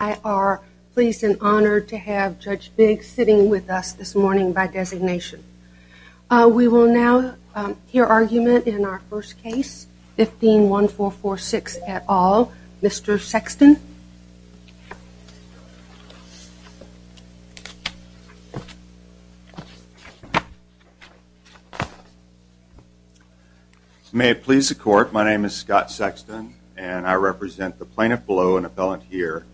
I am pleased and honored to have Judge Biggs sitting with us this morning by designation. We will now hear argument in our first case, 151446 et al., Mr. Sexton. May it please the court, my name is Scott Sexton and I represent the plaintiff below and appellant here,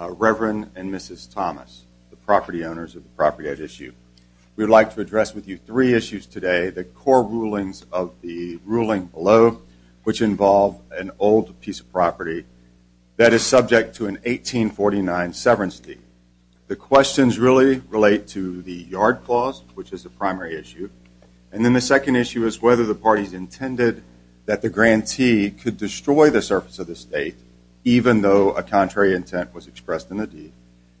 Reverend and Mrs. Thomas, the property owners of the property at issue. We would like to address with you three issues today, the core rulings of the ruling below, which involve an old piece of property that is subject to an 1849 severance deed. The questions really relate to the yard clause, which is the primary issue, and then the second issue is whether the parties intended that the grantee could destroy the surface of the property if a contrary intent was expressed in the deed,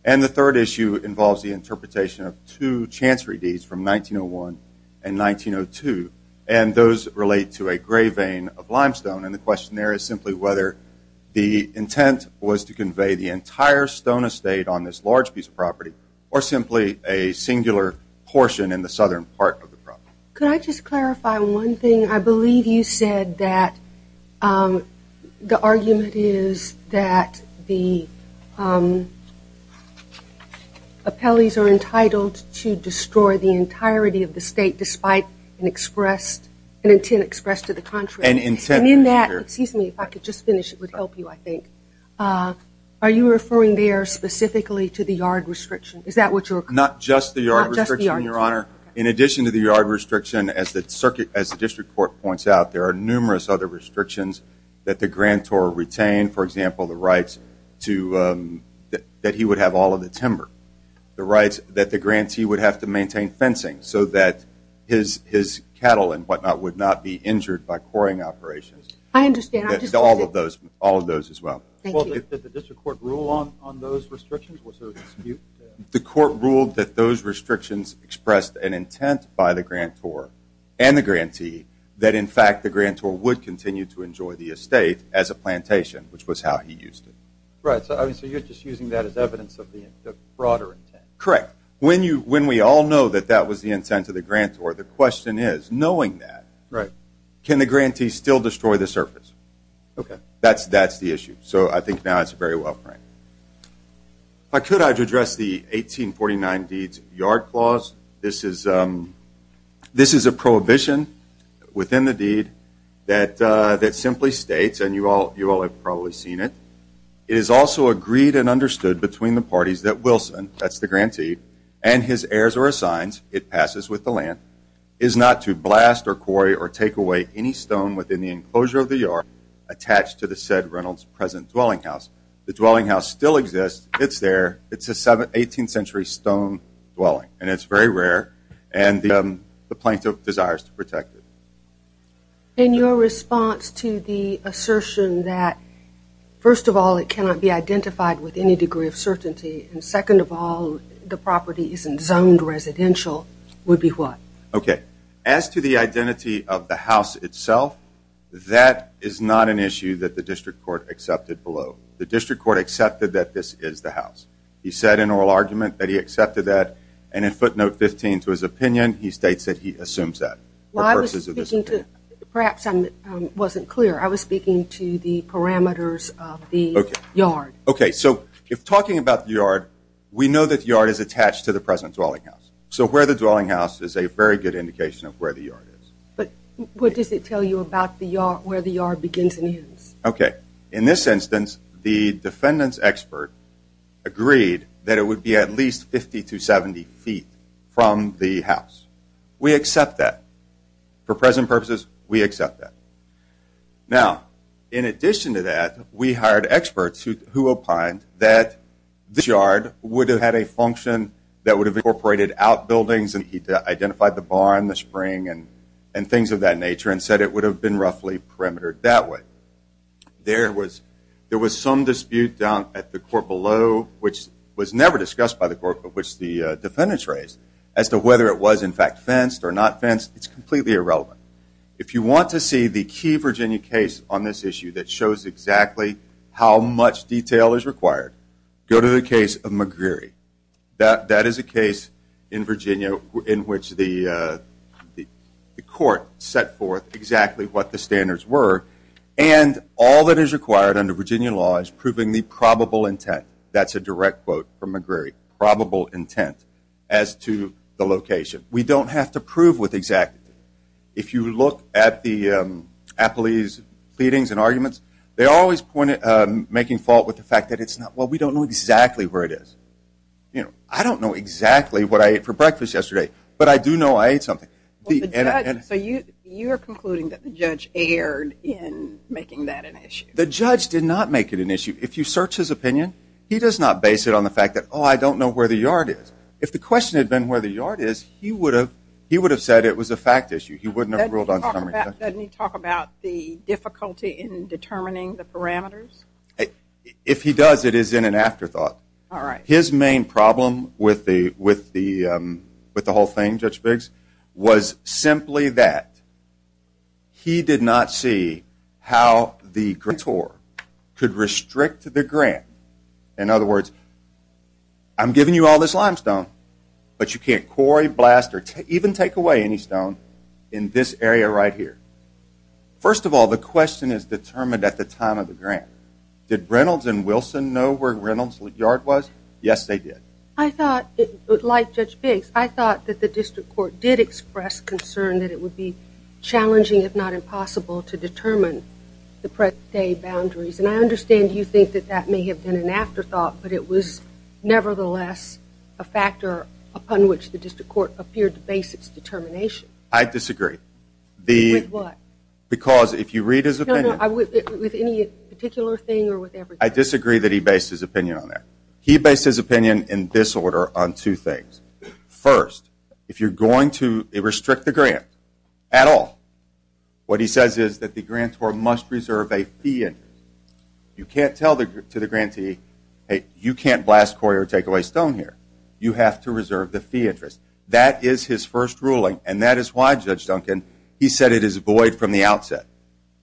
and the third issue involves the interpretation of two chancery deeds from 1901 and 1902, and those relate to a gray vein of limestone, and the question there is simply whether the intent was to convey the entire stone estate on this large piece of property, or simply a singular portion in the southern part of the property. Could I just clarify one thing? I believe you said that the argument is that the appellees are entitled to destroy the entirety of the state despite an intent expressed to the contrary, and in that, if I could just finish it would help you I think, are you referring there specifically to the yard restriction? Is that what you're referring to? Not just the yard restriction, Your Honor. In addition to the yard restriction, as the district court points out, there are numerous other restrictions that the grantor retained, for example, the rights that he would have all of the timber, the rights that the grantee would have to maintain fencing so that his cattle and whatnot would not be injured by quarrying operations. I understand. All of those as well. Thank you. Did the district court rule on those restrictions? Was there a dispute? The court ruled that those restrictions expressed an intent by the grantor and the grantee that in fact the grantor would continue to enjoy the estate as a plantation, which was how he used it. Right, so you're just using that as evidence of the fraud or intent. Correct. When we all know that that was the intent of the grantor, the question is, knowing that, can the grantee still destroy the surface? That's the issue. So I think now it's very well framed. If I could, I'd address the 1849 Deeds of the Yard Clause. This is a prohibition within the deed that simply states, and you all have probably seen it, it is also agreed and understood between the parties that Wilson, that's the grantee, and his heirs or assigns, it passes with the land, is not to blast or quarry or take away any stone within the enclosure of the yard attached to the said Reynolds present dwelling house. The dwelling house still exists. It's there. It's an 18th century stone dwelling, and it's very rare, and the plaintiff desires to protect it. In your response to the assertion that, first of all, it cannot be identified with any degree of certainty, and second of all, the property isn't zoned residential, would be what? Okay. As to the identity of the house itself, that is not an issue that the district court accepted below. The district court accepted that this is the house. He said in oral argument that he accepted that, and in footnote 15 to his opinion, he states that he assumes that. Well, I was speaking to, perhaps I wasn't clear, I was speaking to the parameters of the yard. Okay. So if talking about the yard, we know that the yard is attached to the present dwelling house. So where the dwelling house is a very good indication of where the yard is. But what does it tell you about where the yard begins and ends? Okay. In this instance, the defendant's expert agreed that it would be at least 50 to 70 feet from the house. We accept that. For present purposes, we accept that. Now, in addition to that, we hired experts who opined that the yard would have had a lot of outbuildings, and he identified the barn, the spring, and things of that nature, and said it would have been roughly perimetered that way. There was some dispute down at the court below, which was never discussed by the court, but which the defendants raised, as to whether it was, in fact, fenced or not fenced. It's completely irrelevant. If you want to see the key Virginia case on this issue that shows exactly how much detail is required, go to the case of McGreery. That is a case in Virginia in which the court set forth exactly what the standards were, and all that is required under Virginia law is proving the probable intent. That's a direct quote from McGreery. Probable intent as to the location. We don't have to prove with exactity. If you look at the appellee's pleadings and arguments, they're always making fault with the fact that it's not. Well, we don't know exactly where it is. I don't know exactly what I ate for breakfast yesterday, but I do know I ate something. You are concluding that the judge erred in making that an issue. The judge did not make it an issue. If you search his opinion, he does not base it on the fact that, oh, I don't know where the yard is. If the question had been where the yard is, he would have said it was a fact issue. He wouldn't have ruled on it. Doesn't he talk about the difficulty in determining the parameters? If he does, it is in an afterthought. His main problem with the whole thing, Judge Biggs, was simply that he did not see how the grator could restrict the grant. In other words, I'm giving you all this limestone, but you can't quarry, blast, or even take away any stone in this area right here. First of all, the question is determined at the time of the grant. Did Reynolds and Wilson know where Reynolds' yard was? Yes, they did. I thought, like Judge Biggs, I thought that the district court did express concern that it would be challenging, if not impossible, to determine the present-day boundaries, and I understand you think that that may have been an afterthought, but it was nevertheless a factor upon which the district court appeared to base its determination. I disagree. With what? Because, if you read his opinion... No, no, with any particular thing or with everything. I disagree that he based his opinion on that. He based his opinion, in this order, on two things. First, if you're going to restrict the grant at all, what he says is that the grantor must reserve a fee interest. You can't tell the grantee, hey, you can't blast, quarry, or take away stone here. You have to reserve the fee interest. That is his first ruling, and that is why, Judge Duncan, he said it is void from the outset.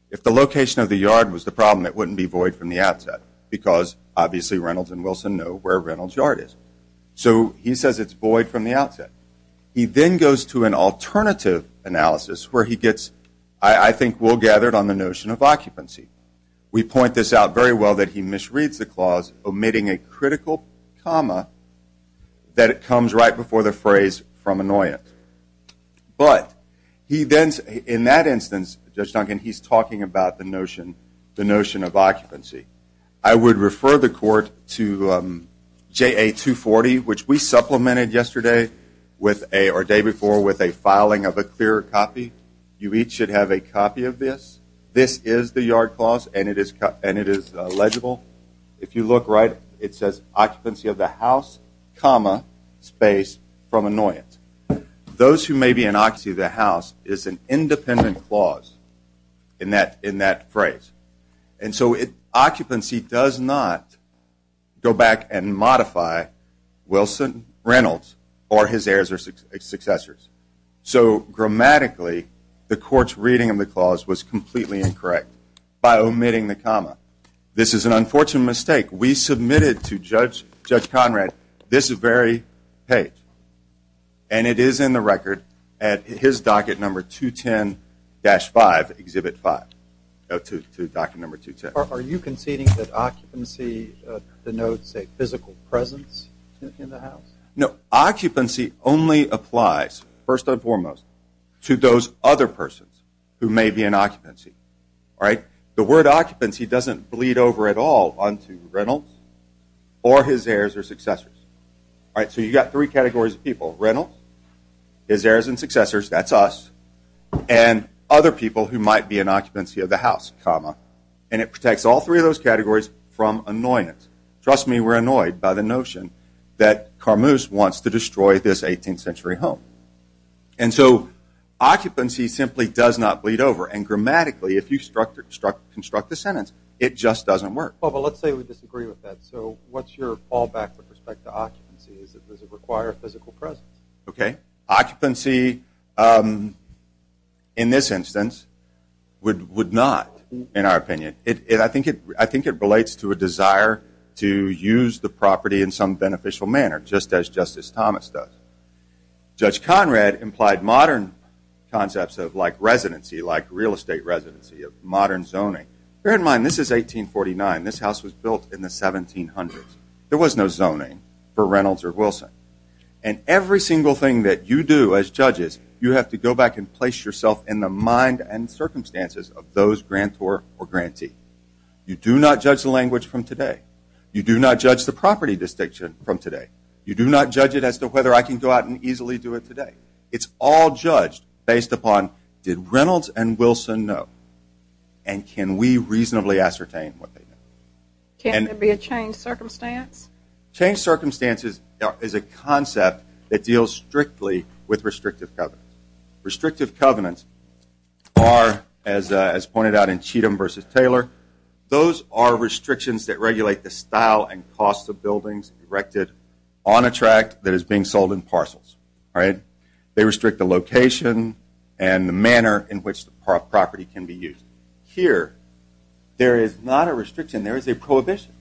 If the location of the yard was the problem, it wouldn't be void from the outset, because obviously Reynolds and Wilson know where Reynolds' yard is. So he says it's void from the outset. He then goes to an alternative analysis, where he gets, I think, well-gathered on the notion of occupancy. We point this out very well, that he misreads the clause, omitting a critical comma, that comes right before the phrase, from annoyance. But in that instance, Judge Duncan, he's talking about the notion of occupancy. I would refer the court to JA 240, which we supplemented yesterday, or the day before, with a filing of a clear copy. You each should have a copy of this. This is the yard clause, and it is legible. If you look right, it says occupancy of the house, comma, space, from annoyance. Those who may be in occupancy of the house is an independent clause in that phrase. And so occupancy does not go back and modify Wilson, Reynolds, or his heirs or successors. So grammatically, the court's reading of the clause was completely incorrect by omitting the comma. This is an unfortunate mistake. We submitted to Judge Conrad this very page. And it is in the record at his docket number 210-5, Exhibit 5, to docket number 210. Are you conceding that occupancy denotes a physical presence in the house? No. Occupancy only applies, first and foremost, to those other persons who may be in occupancy. The word occupancy doesn't bleed over at all onto Reynolds or his heirs or successors. So you've got three categories of people. Reynolds, his heirs and successors, that's us, and other people who might be in occupancy of the house, comma. And it protects all three of those categories from annoyance. Trust me, we're annoyed by the notion that Carmuse wants to destroy this 18th century home. And so occupancy simply does not bleed over. And grammatically, if you construct the sentence, it just doesn't work. Well, but let's say we disagree with that. So what's your fallback with respect to occupancy? Does it require a physical presence? Okay. Occupancy, in this instance, would not, in our opinion. I think it relates to a desire to use the property in some beneficial manner, just as Justice Thomas does. Judge Conrad implied modern concepts of like residency, like real estate residency, of modern zoning. Bear in mind, this is 1849. This house was built in the 1700s. There was no zoning for Reynolds or Wilson. And every single thing that you do as judges, you have to go back and place yourself in the mind and circumstances of those grantor or grantee. You do not judge the language from today. You do not judge the property distinction from today. You do not judge it as to whether I can go out and easily do it today. It's all judged based upon, did Reynolds and Wilson know? And can we reasonably ascertain what they know? Can't there be a changed circumstance? Changed circumstances is a concept that deals strictly with restrictive covenants. Restrictive covenants are, as pointed out in Cheatham v. Taylor, those are restrictions that regulate the style and cost of buildings erected on a tract that is being sold in parcels. They restrict the location and the manner in which the property can be used. Here, there is not a restriction. There is a prohibition.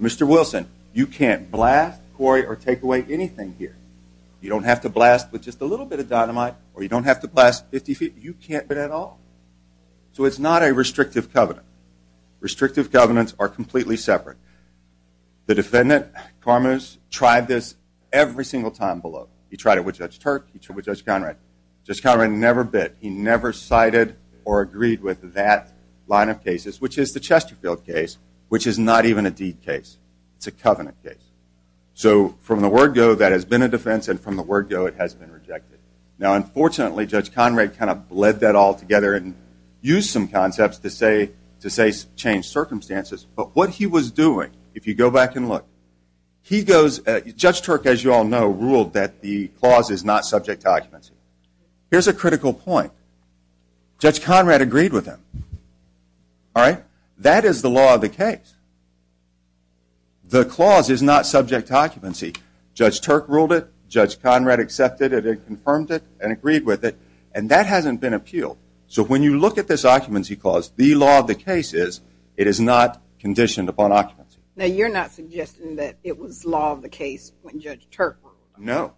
Mr. Wilson, you can't blast, quarry, or take away anything here. You don't have to blast with just a little bit of dynamite, or you don't have to blast 50 feet. You can't do that at all. So it's not a restrictive covenant. Restrictive covenants are completely separate. The defendant, Carmus, tried this every single time below. He tried it with Judge Turk. He tried it with Judge Conrad. Judge Conrad never bit. He never cited or agreed with that line of cases, which is the Chesterfield case, which is not even a deed case. It's a covenant case. So from the word go, that has been a defense, and from the word go, it has been rejected. Now unfortunately, Judge Conrad kind of bled that all together and used some concepts to say change circumstances. But what he was doing, if you go back and look, Judge Turk, as you all know, ruled that the clause is not subject to occupancy. Here's a critical point. Judge Conrad agreed with him. That is the law of the case. The clause is not subject to occupancy. Judge Turk ruled it. Judge Conrad accepted it and confirmed it and agreed with it. And that hasn't been appealed. So when you look at this occupancy clause, the law of the case is, it is not conditioned upon occupancy. Now you're not suggesting that it was law of the case when Judge Turk ruled it. No.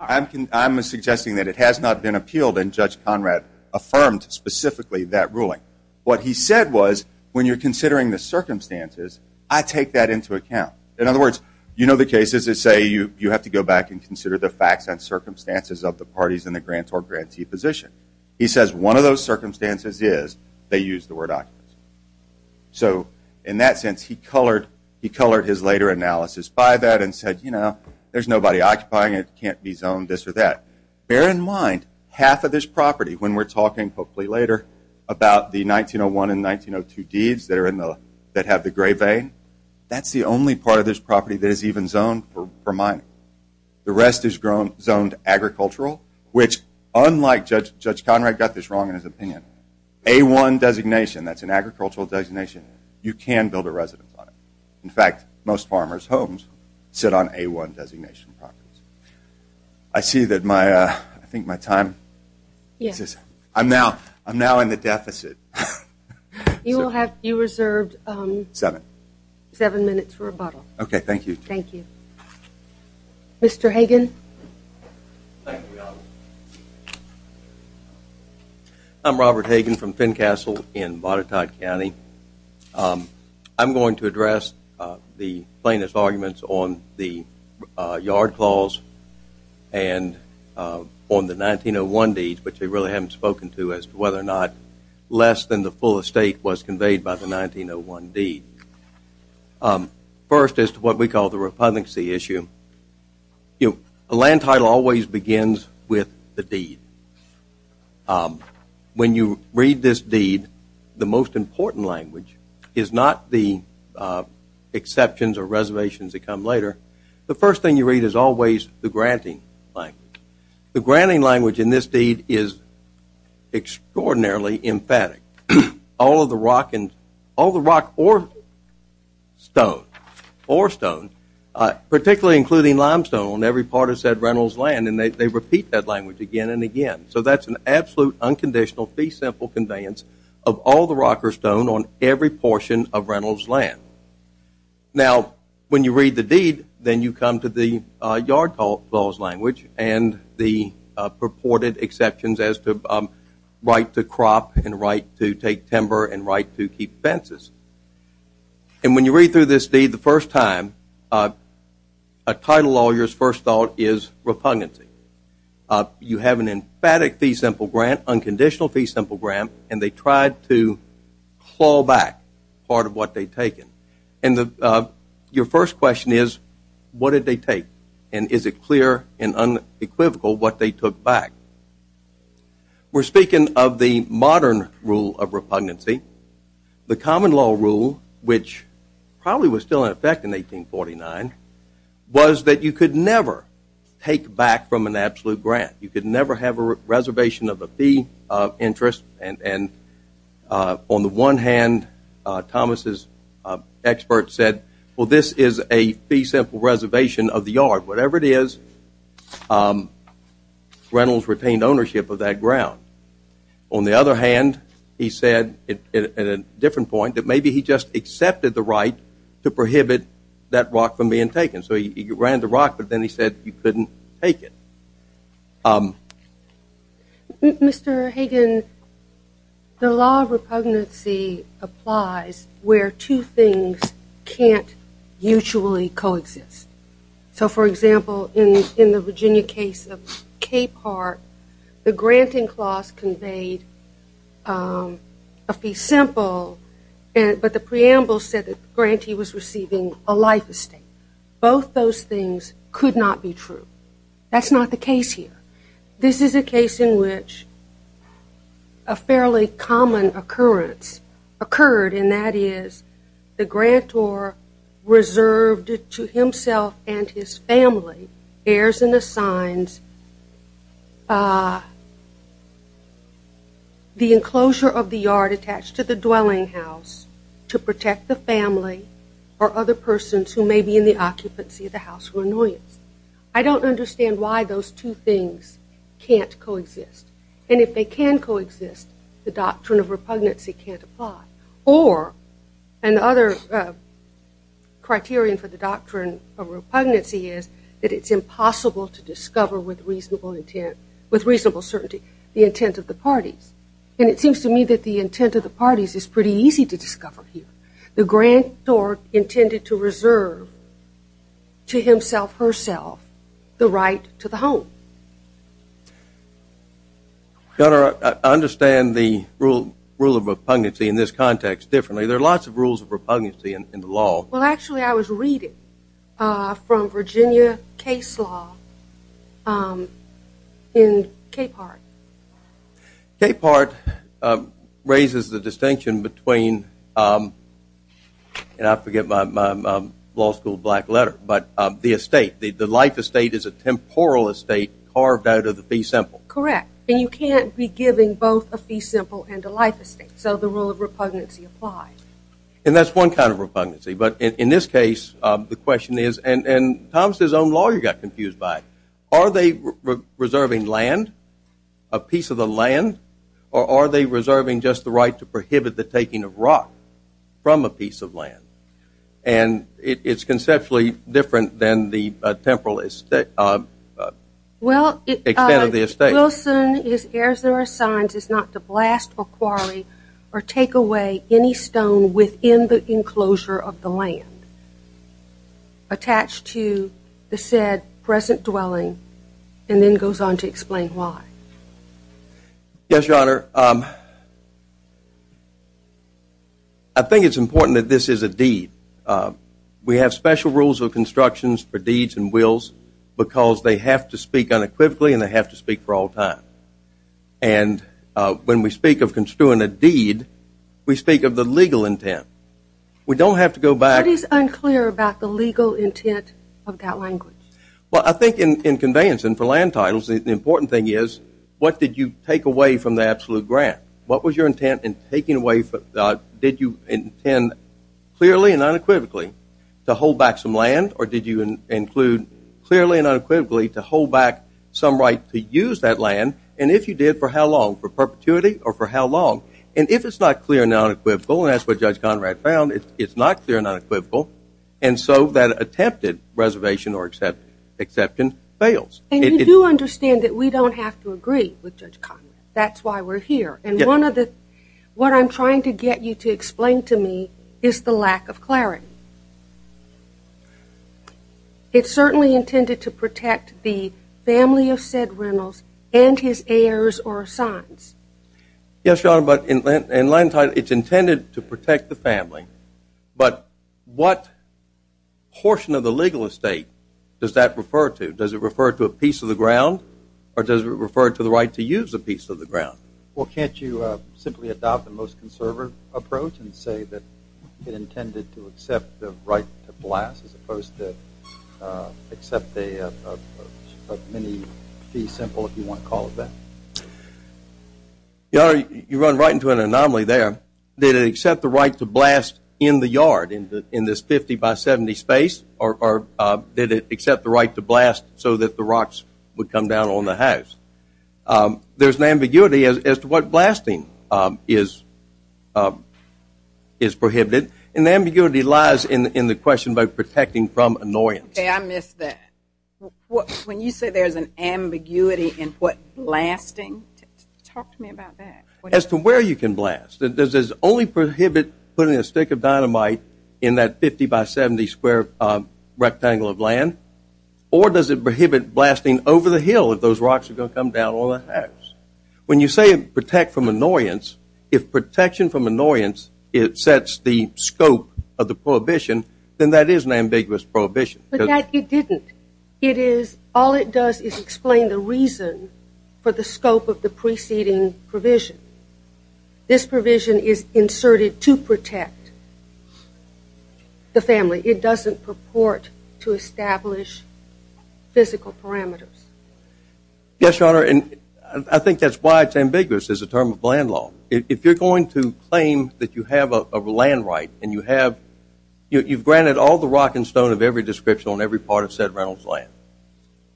I'm suggesting that it has not been appealed and Judge Conrad affirmed specifically that ruling. What he said was, when you're considering the circumstances, I take that into account. In other words, you know the cases that say you have to go back and consider the facts and circumstances of the parties in the grant or grantee position. He says one of those circumstances is they use the word occupancy. So in that sense, he colored his later analysis by that and said, you know, there's nobody occupying it. It can't be zoned this or that. Bear in mind, half of this property, when we're talking, hopefully later, about the 1901 and 1902 deeds that have the gray vein, that's the only part of this property that is even zoned for mining. The rest is zoned agricultural, which, unlike Judge Conrad got this wrong in his opinion, A-1 designation, that's an agricultural designation, you can build a residence on it. In fact, most farmers' homes sit on A-1 designation properties. I see that my, I think my time, I'm now in the deficit. You will have, you reserved seven minutes for rebuttal. Okay, thank you. Thank you. Mr. Hagan. I'm Robert Hagan from Fincastle in Botetourt County. I'm going to address the plaintiff's arguments on the yard clause and on the 1901 deeds, which they really haven't spoken to as to whether or not less than the full estate was conveyed by the 1901 deed. First, as to what we call the repugnancy issue, a land title always begins with the deed. When you read this deed, the most important language is not the exceptions or reservations that come later. The first thing you read is always the granting language. The granting language in this deed is extraordinarily emphatic. All of the rock and, all the rock or stone, particularly including limestone on every part of said rental's land, and they repeat that language again and again. So that's an absolute, unconditional, fee simple conveyance of all the rock or stone on every portion of rental's land. Now when you read the deed, then you come to the yard clause language and the purported exceptions as to right to crop and right to take timber and right to keep fences. And when you read through this deed the first time, a title lawyer's first thought is repugnancy. You have an emphatic fee simple grant, unconditional fee simple grant, and they tried to claw back part of what they'd taken. And your first question is, what did they take? And is it clear and unequivocal what they took back? We're speaking of the modern rule of repugnancy. The common law rule, which probably was still in effect in 1849, was that you could never take back from an absolute grant. You could never have a reservation of a fee of interest and on the one hand, Thomas' expert said, well this is a fee simple reservation of the yard. Whatever it is, rentals retained ownership of that ground. On the other hand, he said at a different point, that maybe he just accepted the right to prohibit that rock from being taken. So he ran the rock, but then he said you couldn't take it. Mr. Hagan, the law of repugnancy applies where two things can't mutually coexist. So for example, in the Virginia case of Cape Heart, the granting clause conveyed a fee simple, but the preamble said that the grantee was receiving a life estate. Both those things could not be true. That's not the case here. This is a case in which a fairly common occurrence occurred, and that is the grantor reserved to himself and his family, bears and assigns the enclosure of the yard attached to the dwelling house to protect the family or other persons who may be in the occupancy of the house for annoyance. I don't understand why those two things can't coexist, and if they can coexist, the doctrine of repugnancy can't apply, or another criterion for the doctrine of repugnancy is that it's impossible to discover with reasonable certainty the intent of the parties, and it seems to me that the intent of the parties is pretty easy to discover here. The grantor intended to reserve to himself, herself, the right to the home. Your Honor, I understand the rule of repugnancy in this context differently. There are lots of rules of repugnancy in the law. Well, actually, I was reading from Virginia case law in Cape Heart. Cape Heart raises the distinction between, and I forget my law school black letter, but the estate, the life estate is a temporal estate carved out of the fee simple. Correct, and you can't be giving both a fee simple and a life estate, so the rule of repugnancy applies. And that's one kind of repugnancy, but in this case, the question is, and Thomas' own lawyer got confused by it, are they reserving land, a piece of the land, or are they reserving just the right to prohibit the taking of rock from a piece of land? And it's conceptually different than the temporal estate, extent of the estate. Well, Wilson is, as there are signs, is not to blast or quarry or take away any stone within the enclosure of the land attached to the said present dwelling, and then goes on to explain why. Yes, Your Honor. I think it's important that this is a deed. We have special rules of constructions for deeds and wills because they have to speak unequivocally and they have to speak for all time. And when we speak of construing a deed, we speak of the legal intent. We don't have to go back. What is unclear about the legal intent of that language? Well, I think in conveyance and for land titles, the important thing is, what did you take away from the absolute grant? What was your intent in taking away? Did you intend clearly and unequivocally to hold back some land, or did you include clearly and unequivocally to hold back some right to use that land? And if you did, for how long? For perpetuity or for how long? And if it's not clear and unequivocal, and that's what Judge Conrad found, it's not clear and unequivocal, and so that attempted reservation or exception fails. And you do understand that we don't have to agree with Judge Conrad. That's why we're here. And one of the, what I'm trying to get you to explain to me is the lack of clarity. It's certainly intended to protect the family of said rentals and his heirs or sons. Yes, Your Honor, but in land title, it's intended to protect the family. But what portion of the legal estate does that refer to? Does it refer to a piece of the ground, or does it refer to the right to use a piece of the ground? Well, can't you simply adopt the most conservative approach and say that it intended to accept the right to blast, as opposed to accept a mini fee simple, if you want to call it that? Your Honor, you run right into an anomaly there. Did it accept the right to blast in the yard in this 50 by 70 space, or did it accept the right to blast so that the rocks would come down on the house? There's an ambiguity as to what blasting is prohibited. And the ambiguity lies in the question about protecting from annoyance. Okay, I missed that. When you say there's an ambiguity in what blasting, talk to me about that. As to where you can blast, does this only prohibit putting a stick of dynamite in that 50 by 70 square rectangle of land, or does it prohibit blasting over the hill if those rocks are going to come down on the house? When you say protect from annoyance, if protection from annoyance sets the scope of the prohibition, then that is an ambiguous prohibition. But that it didn't. It is, all it does is explain the reason for the scope of the preceding provision. This provision is inserted to protect the family. It doesn't purport to establish physical parameters. Yes, Your Honor, and I think that's why it's ambiguous as a term of land law. If you're going to claim that you have a land right, and you have, you've granted all the rock and stone of every description on every part of said Reynolds land.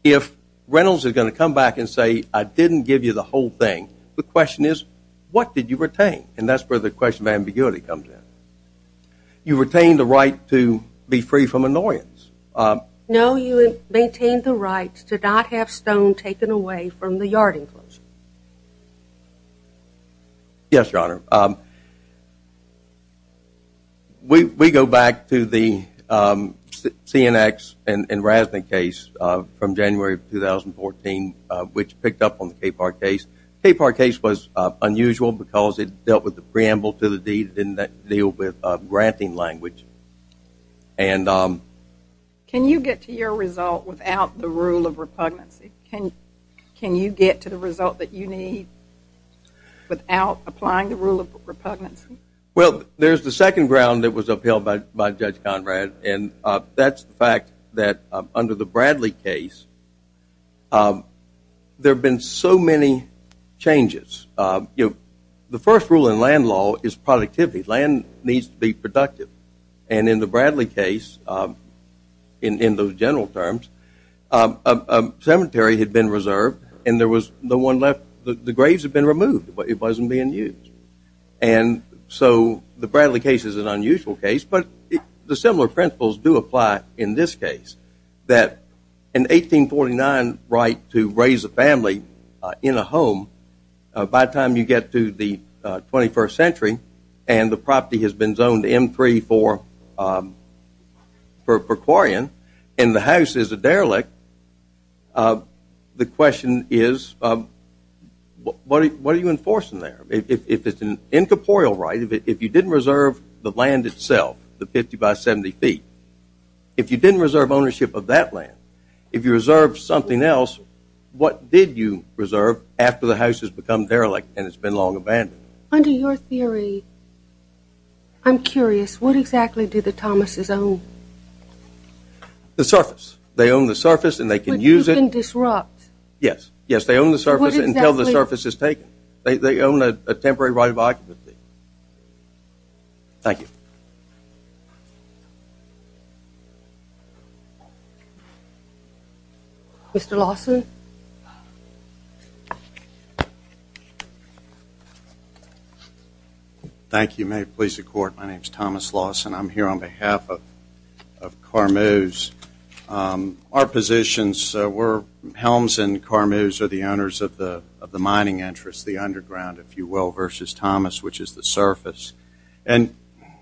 If Reynolds is going to come back and say, I didn't give you the whole thing, the question is, what did you retain? And that's where the question of ambiguity comes in. You retained the right to be free from annoyance. No, you maintained the right to not have stone taken away from the yard enclosure. Yes, Your Honor. We go back to the CNX and RASNIC case from January of 2014, which picked up on the KPAR case. The KPAR case was unusual because it dealt with the preamble to the deed and didn't deal with granting language. Can you get to your result without the rule of repugnancy? Can you get to the result that you need without applying the rule of repugnancy? Well, there's the second ground that was upheld by Judge Conrad, and that's the fact that under the Bradley case, there have been so many changes. The first rule in land law is productivity. Land needs to be productive. And in the Bradley case, in those general terms, a cemetery had been reserved and there was no one left. The graves had been removed, but it wasn't being used. And so the Bradley case is an unusual case, but the similar principles do apply in this case, that in 1849 right to raise a family in a home, by the time you get to the 21st century, and the property has been zoned M3 for Quarian, and the house is a derelict, the question is, what are you enforcing there? If it's an incorporeal right, if you didn't reserve the land itself, the 50 by 70 feet, if you didn't reserve ownership of that land, if you reserved something else, what did you reserve after the house has become derelict and it's been long abandoned? Under your theory, I'm curious, what exactly do the Thomases own? The surface. They own the surface and they can use it. But you can disrupt. Yes. Yes, they own the surface until the surface is taken. They own a temporary right of occupancy. Thank you. Mr. Lawson? Thank you. May it please the court. My name is Thomas Lawson. I'm here on behalf of Carmuse. Our positions were Helms and Carmuse are the owners of the mining interest, the underground, if you will, versus Thomas, which is the surface. And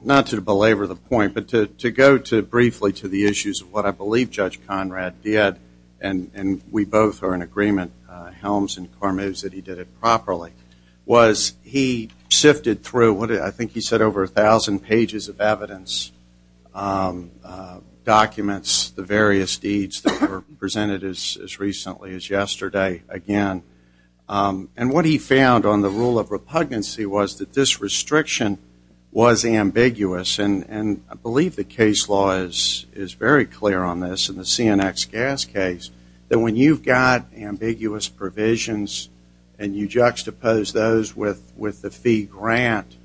not to belabor the point, but to go briefly to the issues of what I believe Judge Conrad did, and we both are in agreement, Helms and Carmuse, that he did it properly, was he sifted through, I think he said over 1,000 pages of evidence, documents, the various deeds that were presented as recently as yesterday, again. And what he found on the rule of repugnancy was that this restriction was ambiguous. And I believe the case law is very clear on this in the CNX gas case, that when you've got ambiguous provisions and you juxtapose those with the fee grant,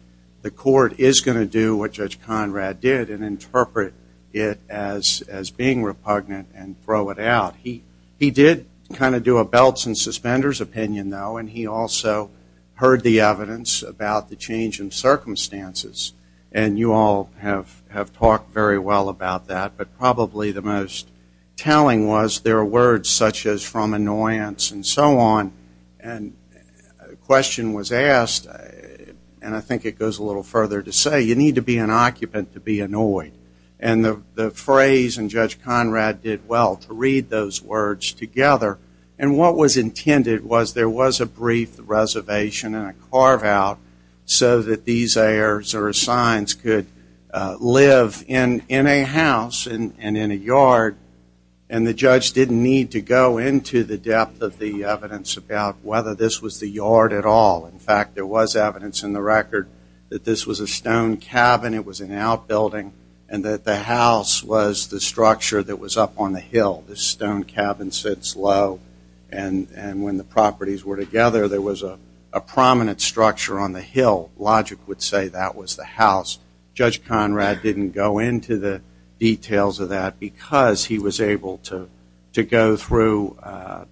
the court is going to do what Judge Conrad did and interpret it as being repugnant and throw it out. He did kind of do a belts and suspenders opinion, though, and he also heard the evidence about the change in circumstances. And you all have talked very well about that, but probably the most telling was there are words such as from annoyance and so on. And a question was asked, and I think it goes a little further to say, you need to be an occupant to be annoyed. And the phrase and Judge Conrad did well to read those words together. And what was intended was there was a brief reservation and a carve out so that these heirs or assigns could live in a house and in a yard, and the judge didn't need to go into the depth of the evidence about whether this was the yard at all. In fact, there was evidence in the record that this was a stone cabin, it was an outbuilding, and that the house was the structure that was up on the hill. This stone cabin sits low, and when the properties were together, there was a prominent structure on the hill. Logic would say that was the house. Judge Conrad didn't go into the details of that because he was able to go through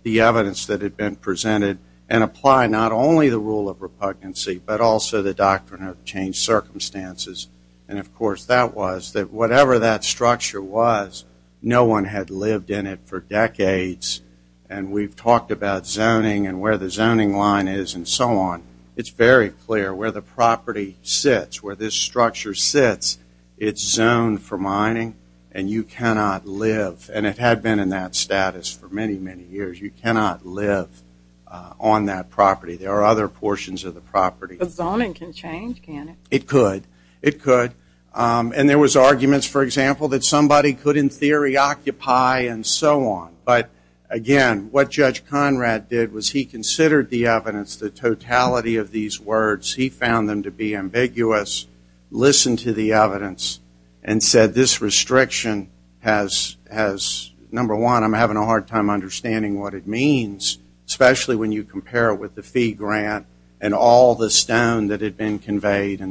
the evidence that had been presented and apply not only the rule of repugnancy, but also the doctrine of changed circumstances. And, of course, that was that whatever that structure was, no one had lived in it for decades, and we've talked about zoning and where the zoning line is and so on. It's very clear where the property sits, where this structure sits, it's zoned for mining and you cannot live, and it had been in that status for many, many years. You cannot live on that property. There are other portions of the property. But zoning can change, can't it? It could. It could. And there was arguments, for example, that somebody could, in theory, occupy and so on. But, again, what Judge Conrad did was he considered the evidence, the totality of these words, he found them to be ambiguous, listened to the evidence, and said this restriction has, number one, I'm having a hard time understanding what it means, especially when you and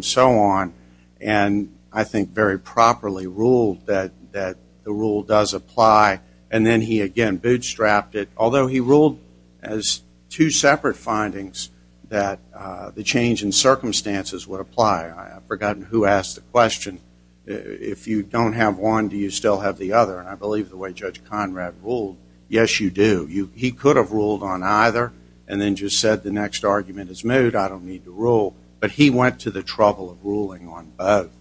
so on, and I think very properly ruled that the rule does apply. And then he, again, bootstrapped it, although he ruled as two separate findings that the change in circumstances would apply. I've forgotten who asked the question. If you don't have one, do you still have the other? And I believe the way Judge Conrad ruled, yes, you do. He could have ruled on either and then just said the next argument is moot, I don't need to rule. But he went to the trouble of ruling on both.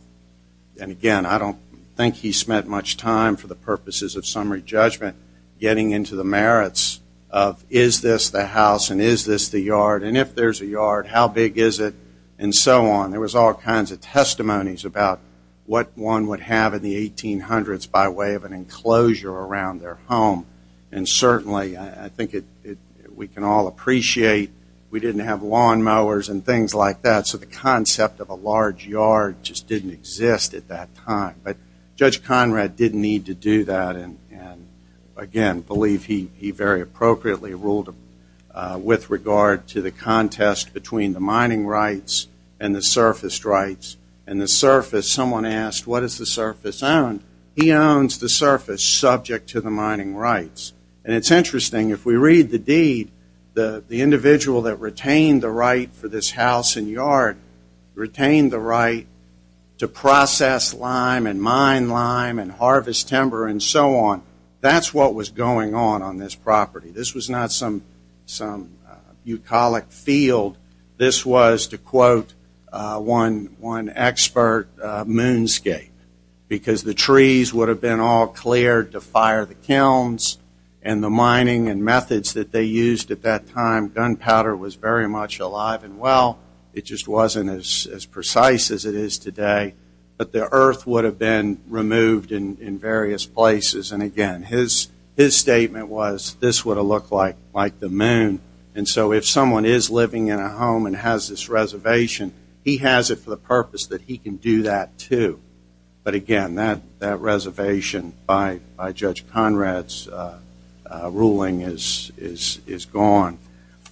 And, again, I don't think he spent much time, for the purposes of summary judgment, getting into the merits of is this the house and is this the yard, and if there's a yard, how big is it, and so on. There was all kinds of testimonies about what one would have in the 1800s by way of an enclosure around their home. And, certainly, I think we can all appreciate we didn't have lawnmowers and things like that, so the concept of a large yard just didn't exist at that time. But Judge Conrad didn't need to do that, and, again, I believe he very appropriately ruled with regard to the contest between the mining rights and the surface rights. And the surface, someone asked, what is the surface owned? He owns the surface subject to the mining rights. And it's interesting, if we read the deed, the individual that retained the right for this house and yard retained the right to process lime and mine lime and harvest timber and so on. That's what was going on on this property. This was not some eucolic field. This was, to quote one expert, moonscape, because the trees would have been all cleared to fire the kilns and the mining and methods that they used at that time. Gunpowder was very much alive and well. It just wasn't as precise as it is today. But the earth would have been removed in various places. And, again, his statement was this would have looked like the moon. And so if someone is living in a home and has this reservation, he has it for the purpose that he can do that, too. But, again, that reservation by Judge Conrad's ruling is gone.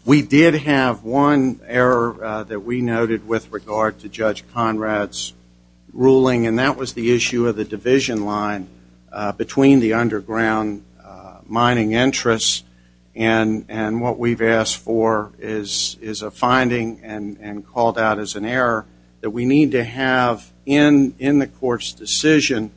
We did have one error that we noted with regard to Judge Conrad's ruling, and that was the is a finding and called out as an error that we need to have in the court's decision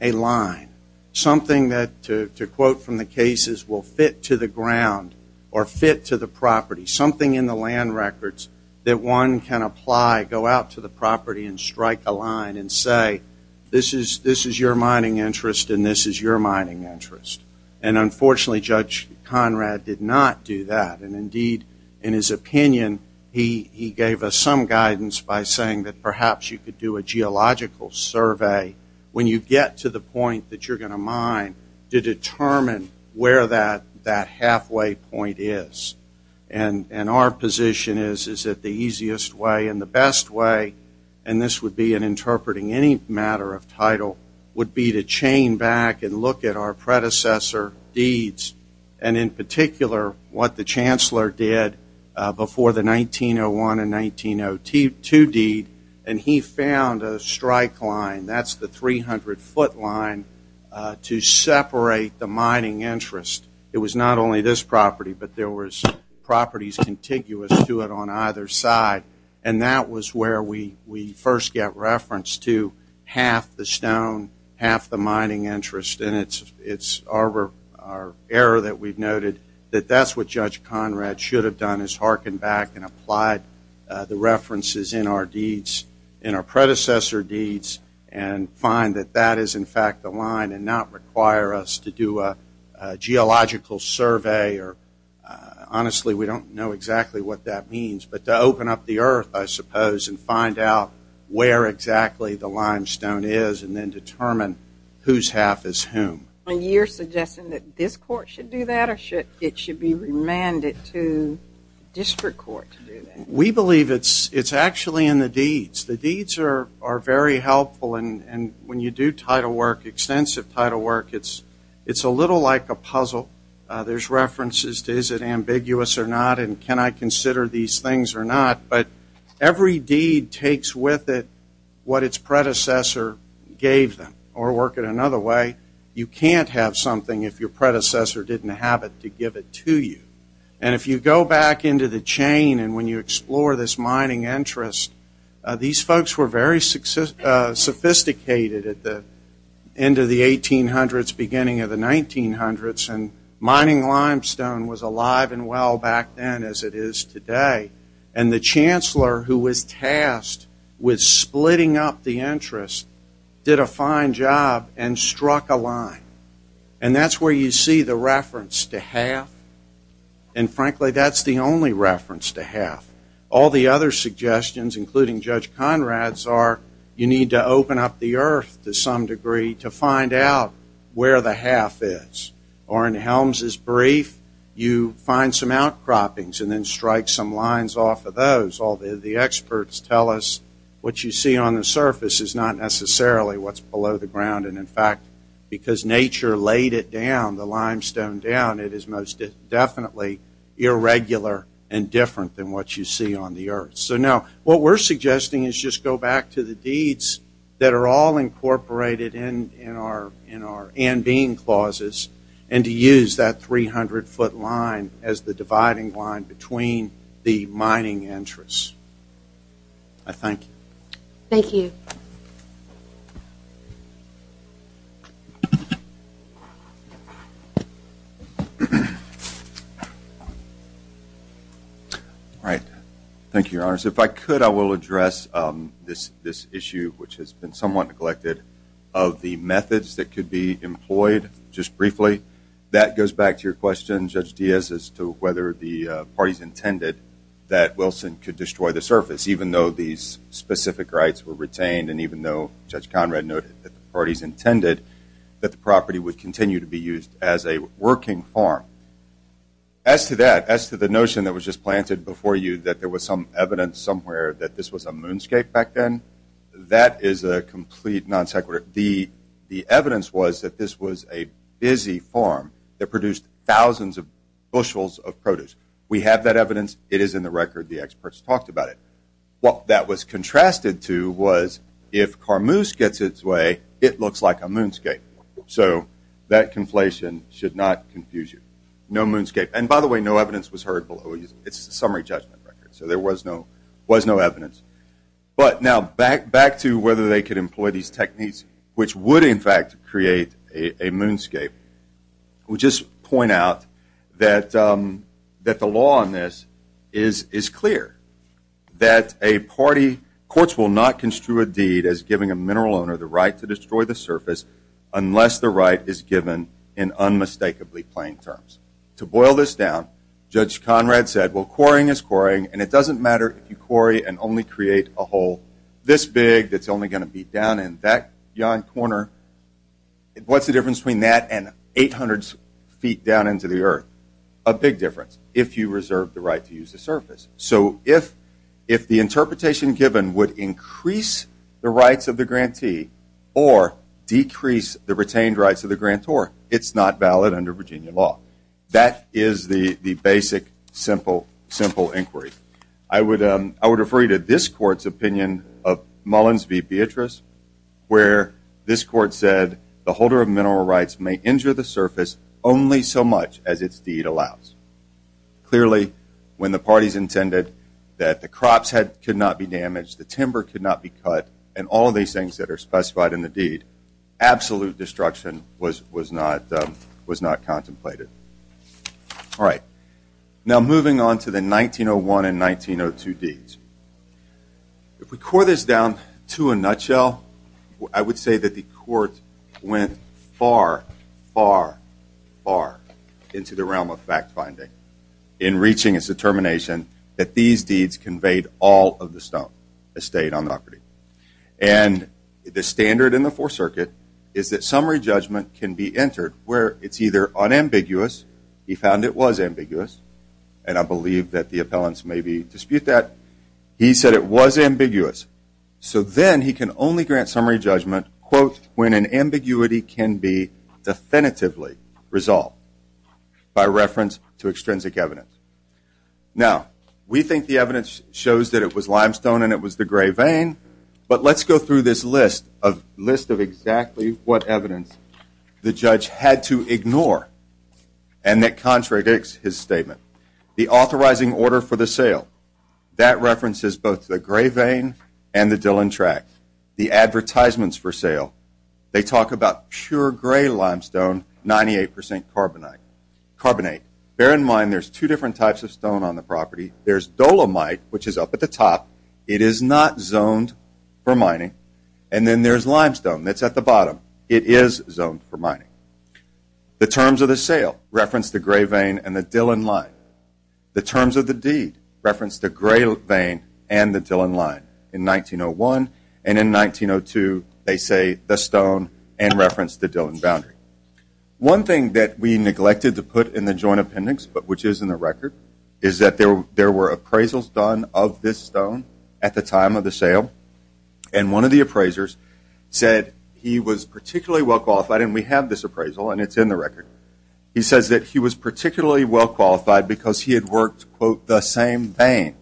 a line, something that, to quote from the cases, will fit to the ground or fit to the property, something in the land records that one can apply, go out to the property and strike a line and say, this is your mining interest and this is your mining interest. And, unfortunately, Judge Conrad did not do that. And, indeed, in his opinion, he gave us some guidance by saying that perhaps you could do a geological survey when you get to the point that you're going to mine to determine where that halfway point is. And our position is that the easiest way and the best way, and this would be in interpreting any matter of title, would be to chain back and look at our predecessor deeds and, in particular, what the Chancellor did before the 1901 and 1902 deed. And he found a strike line, that's the 300-foot line, to separate the mining interest. It was not only this property, but there was properties contiguous to it on either side. And that was where we first got reference to half the stone, half the mining interest. And it's our error that we've noted that that's what Judge Conrad should have done, is harken back and apply the references in our deeds, in our predecessor deeds, and find that that is, in fact, the line and not require us to do a geological survey or, honestly, we don't know exactly what that means, but to open up the earth, I suppose, and find out where exactly the limestone is and then determine whose half is whom. And you're suggesting that this court should do that or it should be remanded to district court to do that? We believe it's actually in the deeds. The deeds are very helpful, and when you do title work, extensive title work, it's a little like a puzzle. There's references to is it ambiguous or not and can I consider these things or not, but every deed takes with it what its predecessor gave them. Or work it another way, you can't have something if your predecessor didn't have it to give it to you. And if you go back into the chain and when you explore this mining interest, these folks were very sophisticated at the end of the 1800s, beginning of the 1900s, and mining limestone was alive and well back then as it is today. And the chancellor who was tasked with splitting up the interest did a fine job and struck a line. And that's where you see the reference to half, and frankly, that's the only reference to half. All the other suggestions, including Judge Conrad's, are you need to open up the earth to some degree to find out where the half is. Or in Helms' brief, you find some outcroppings and then strike some lines off of those. All the experts tell us what you see on the surface is not necessarily what's below the ground, and in fact, because nature laid it down, the limestone down, it is most definitely irregular and different than what you see on the earth. So now what we're suggesting is just go back to the deeds that are all incorporated in our and being clauses and to use that 300-foot line as the dividing line between the mining interests. I thank you. Thank you. All right. Thank you, Your Honors. If I could, I will address this issue, which has been somewhat neglected, of the methods that could be employed. Just briefly, that goes back to your question, Judge Diaz, as to whether the parties intended that Wilson could destroy the surface, even though these specific rights were retained and even though Judge Conrad noted that the parties intended that the property would continue to be used as a working farm. As to that, as to the notion that was just planted before you, that there was some evidence somewhere that this was a moonscape back then, that is a complete non sequitur. The evidence was that this was a busy farm that produced thousands of bushels of produce. We have that evidence. It is in the record. The experts talked about it. What that was contrasted to was if carmoose gets its way, it looks like a moonscape. So that conflation should not confuse you. No moonscape. And by the way, no evidence was heard below. It's a summary judgment record, so there was no evidence. But now back to whether they could employ these techniques, which would, in fact, create a moonscape. We'll just point out that the law on this is clear, that courts will not construe a deed as giving a mineral owner the right to destroy the surface unless the right is given in unmistakably plain terms. To boil this down, Judge Conrad said, well, quarrying is quarrying, and it doesn't matter if you quarry and only create a hole this big that's only going to be down in that yon corner. What's the difference between that and 800 feet down into the earth? A big difference if you reserve the right to use the surface. So if the interpretation given would increase the rights of the grantee or decrease the retained rights of the grantor, it's not valid under Virginia law. That is the basic, simple inquiry. I would refer you to this court's opinion of Mullins v. Beatrice, where this court said the holder of mineral rights may injure the surface only so much as its deed allows. Clearly, when the parties intended that the crops could not be damaged, the timber could not be cut, and all of these things that are specified in the deed, absolute destruction was not contemplated. All right. Now, moving on to the 1901 and 1902 deeds. If we core this down to a nutshell, I would say that the court went far, far, far into the realm of fact-finding in reaching its determination that these deeds conveyed all of the stone estate on the property. And the standard in the Fourth Circuit is that summary judgment can be entered where it's either unambiguous. He found it was ambiguous, and I believe that the appellants maybe dispute that. He said it was ambiguous. So then he can only grant summary judgment, quote, when an ambiguity can be definitively resolved by reference to extrinsic evidence. Now, we think the evidence shows that it was limestone and it was the gray vein, but let's go through this list of exactly what evidence the judge had to ignore and that contradicts his statement. The authorizing order for the sale. That references both the gray vein and the Dillon Tract. The advertisements for sale. They talk about pure gray limestone, 98% carbonate. Bear in mind there's two different types of stone on the property. There's dolomite, which is up at the top. It is not zoned for mining. And then there's limestone that's at the bottom. It is zoned for mining. The terms of the sale reference the gray vein and the Dillon Line. The terms of the deed reference the gray vein and the Dillon Line in 1901. And in 1902, they say the stone and reference the Dillon Boundary. One thing that we neglected to put in the joint appendix, but which is in the record, is that there were appraisals done of this stone at the time of the sale. And one of the appraisers said he was particularly well qualified, and we have this appraisal and it's in the record. He says that he was particularly well qualified because he had worked, quote, the same vein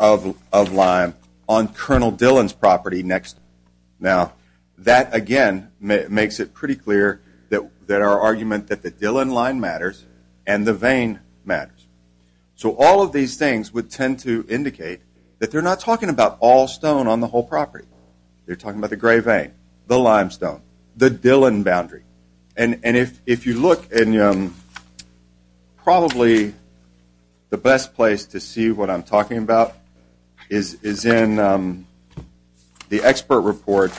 of lime on Colonel Dillon's property next. Now, that, again, makes it pretty clear that our argument that the Dillon Line matters and the vein matters. So all of these things would tend to indicate that they're not talking about all stone on the whole property. They're talking about the gray vein, the limestone, the Dillon Boundary. And if you look in probably the best place to see what I'm talking about is in the expert report,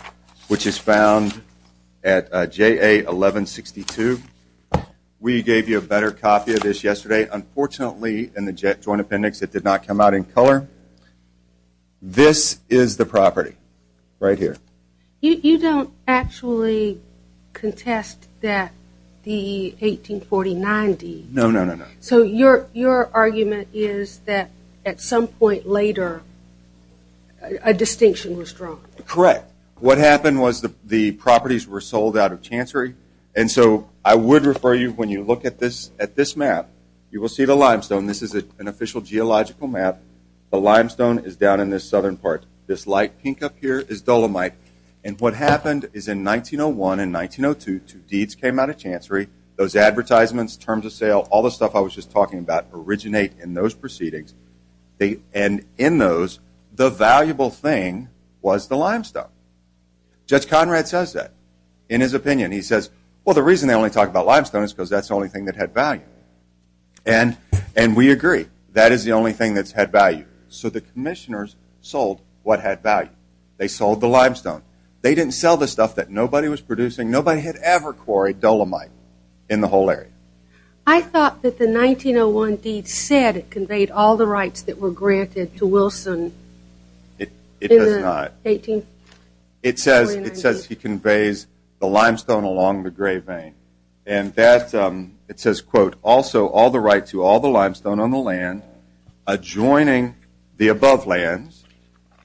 which is found at JA 1162. We gave you a better copy of this yesterday. Unfortunately, in the joint appendix, it did not come out in color. This is the property right here. You don't actually contest that the 1849 deed. No, no, no, no. So your argument is that at some point later, a distinction was drawn. Correct. What happened was the properties were sold out of Chancery. And so I would refer you, when you look at this map, you will see the limestone. This is an official geological map. The limestone is down in this southern part. This light pink up here is dolomite. And what happened is in 1901 and 1902, two deeds came out of Chancery. Those advertisements, terms of sale, all the stuff I was just talking about originate in those proceedings. And in those, the valuable thing was the limestone. Judge Conrad says that in his opinion. He says, well, the reason they only talk about limestone is because that's the only thing that had value. And we agree. That is the only thing that's had value. So the commissioners sold what had value. They sold the limestone. They didn't sell the stuff that nobody was producing. Nobody had ever quarried dolomite in the whole area. I thought that the 1901 deed said it conveyed all the rights that were granted to Wilson. It does not. It says he conveys the limestone along the Gray Vane. It says, quote, also all the rights to all the limestone on the land adjoining the above lands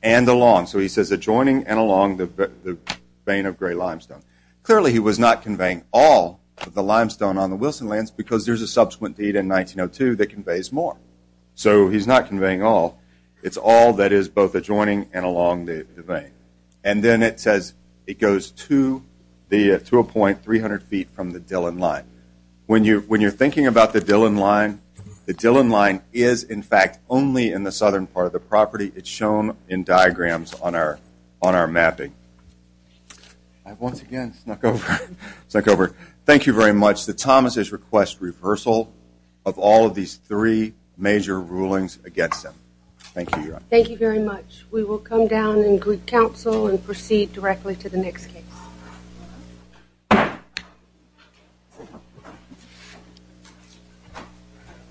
and along. So he says adjoining and along the vane of Gray Limestone. Clearly he was not conveying all of the limestone on the Wilson lands because there's a subsequent deed in 1902 that conveys more. So he's not conveying all. It's all that is both adjoining and along the vane. And then it says it goes to a point 300 feet from the Dillon Line. When you're thinking about the Dillon Line, the Dillon Line is, in fact, only in the southern part of the property. It's shown in diagrams on our mapping. I once again snuck over. Thank you very much. The Thomases request reversal of all of these three major rulings against him. Thank you, Your Honor. Thank you very much. We will come down and greet counsel and proceed directly to the next case.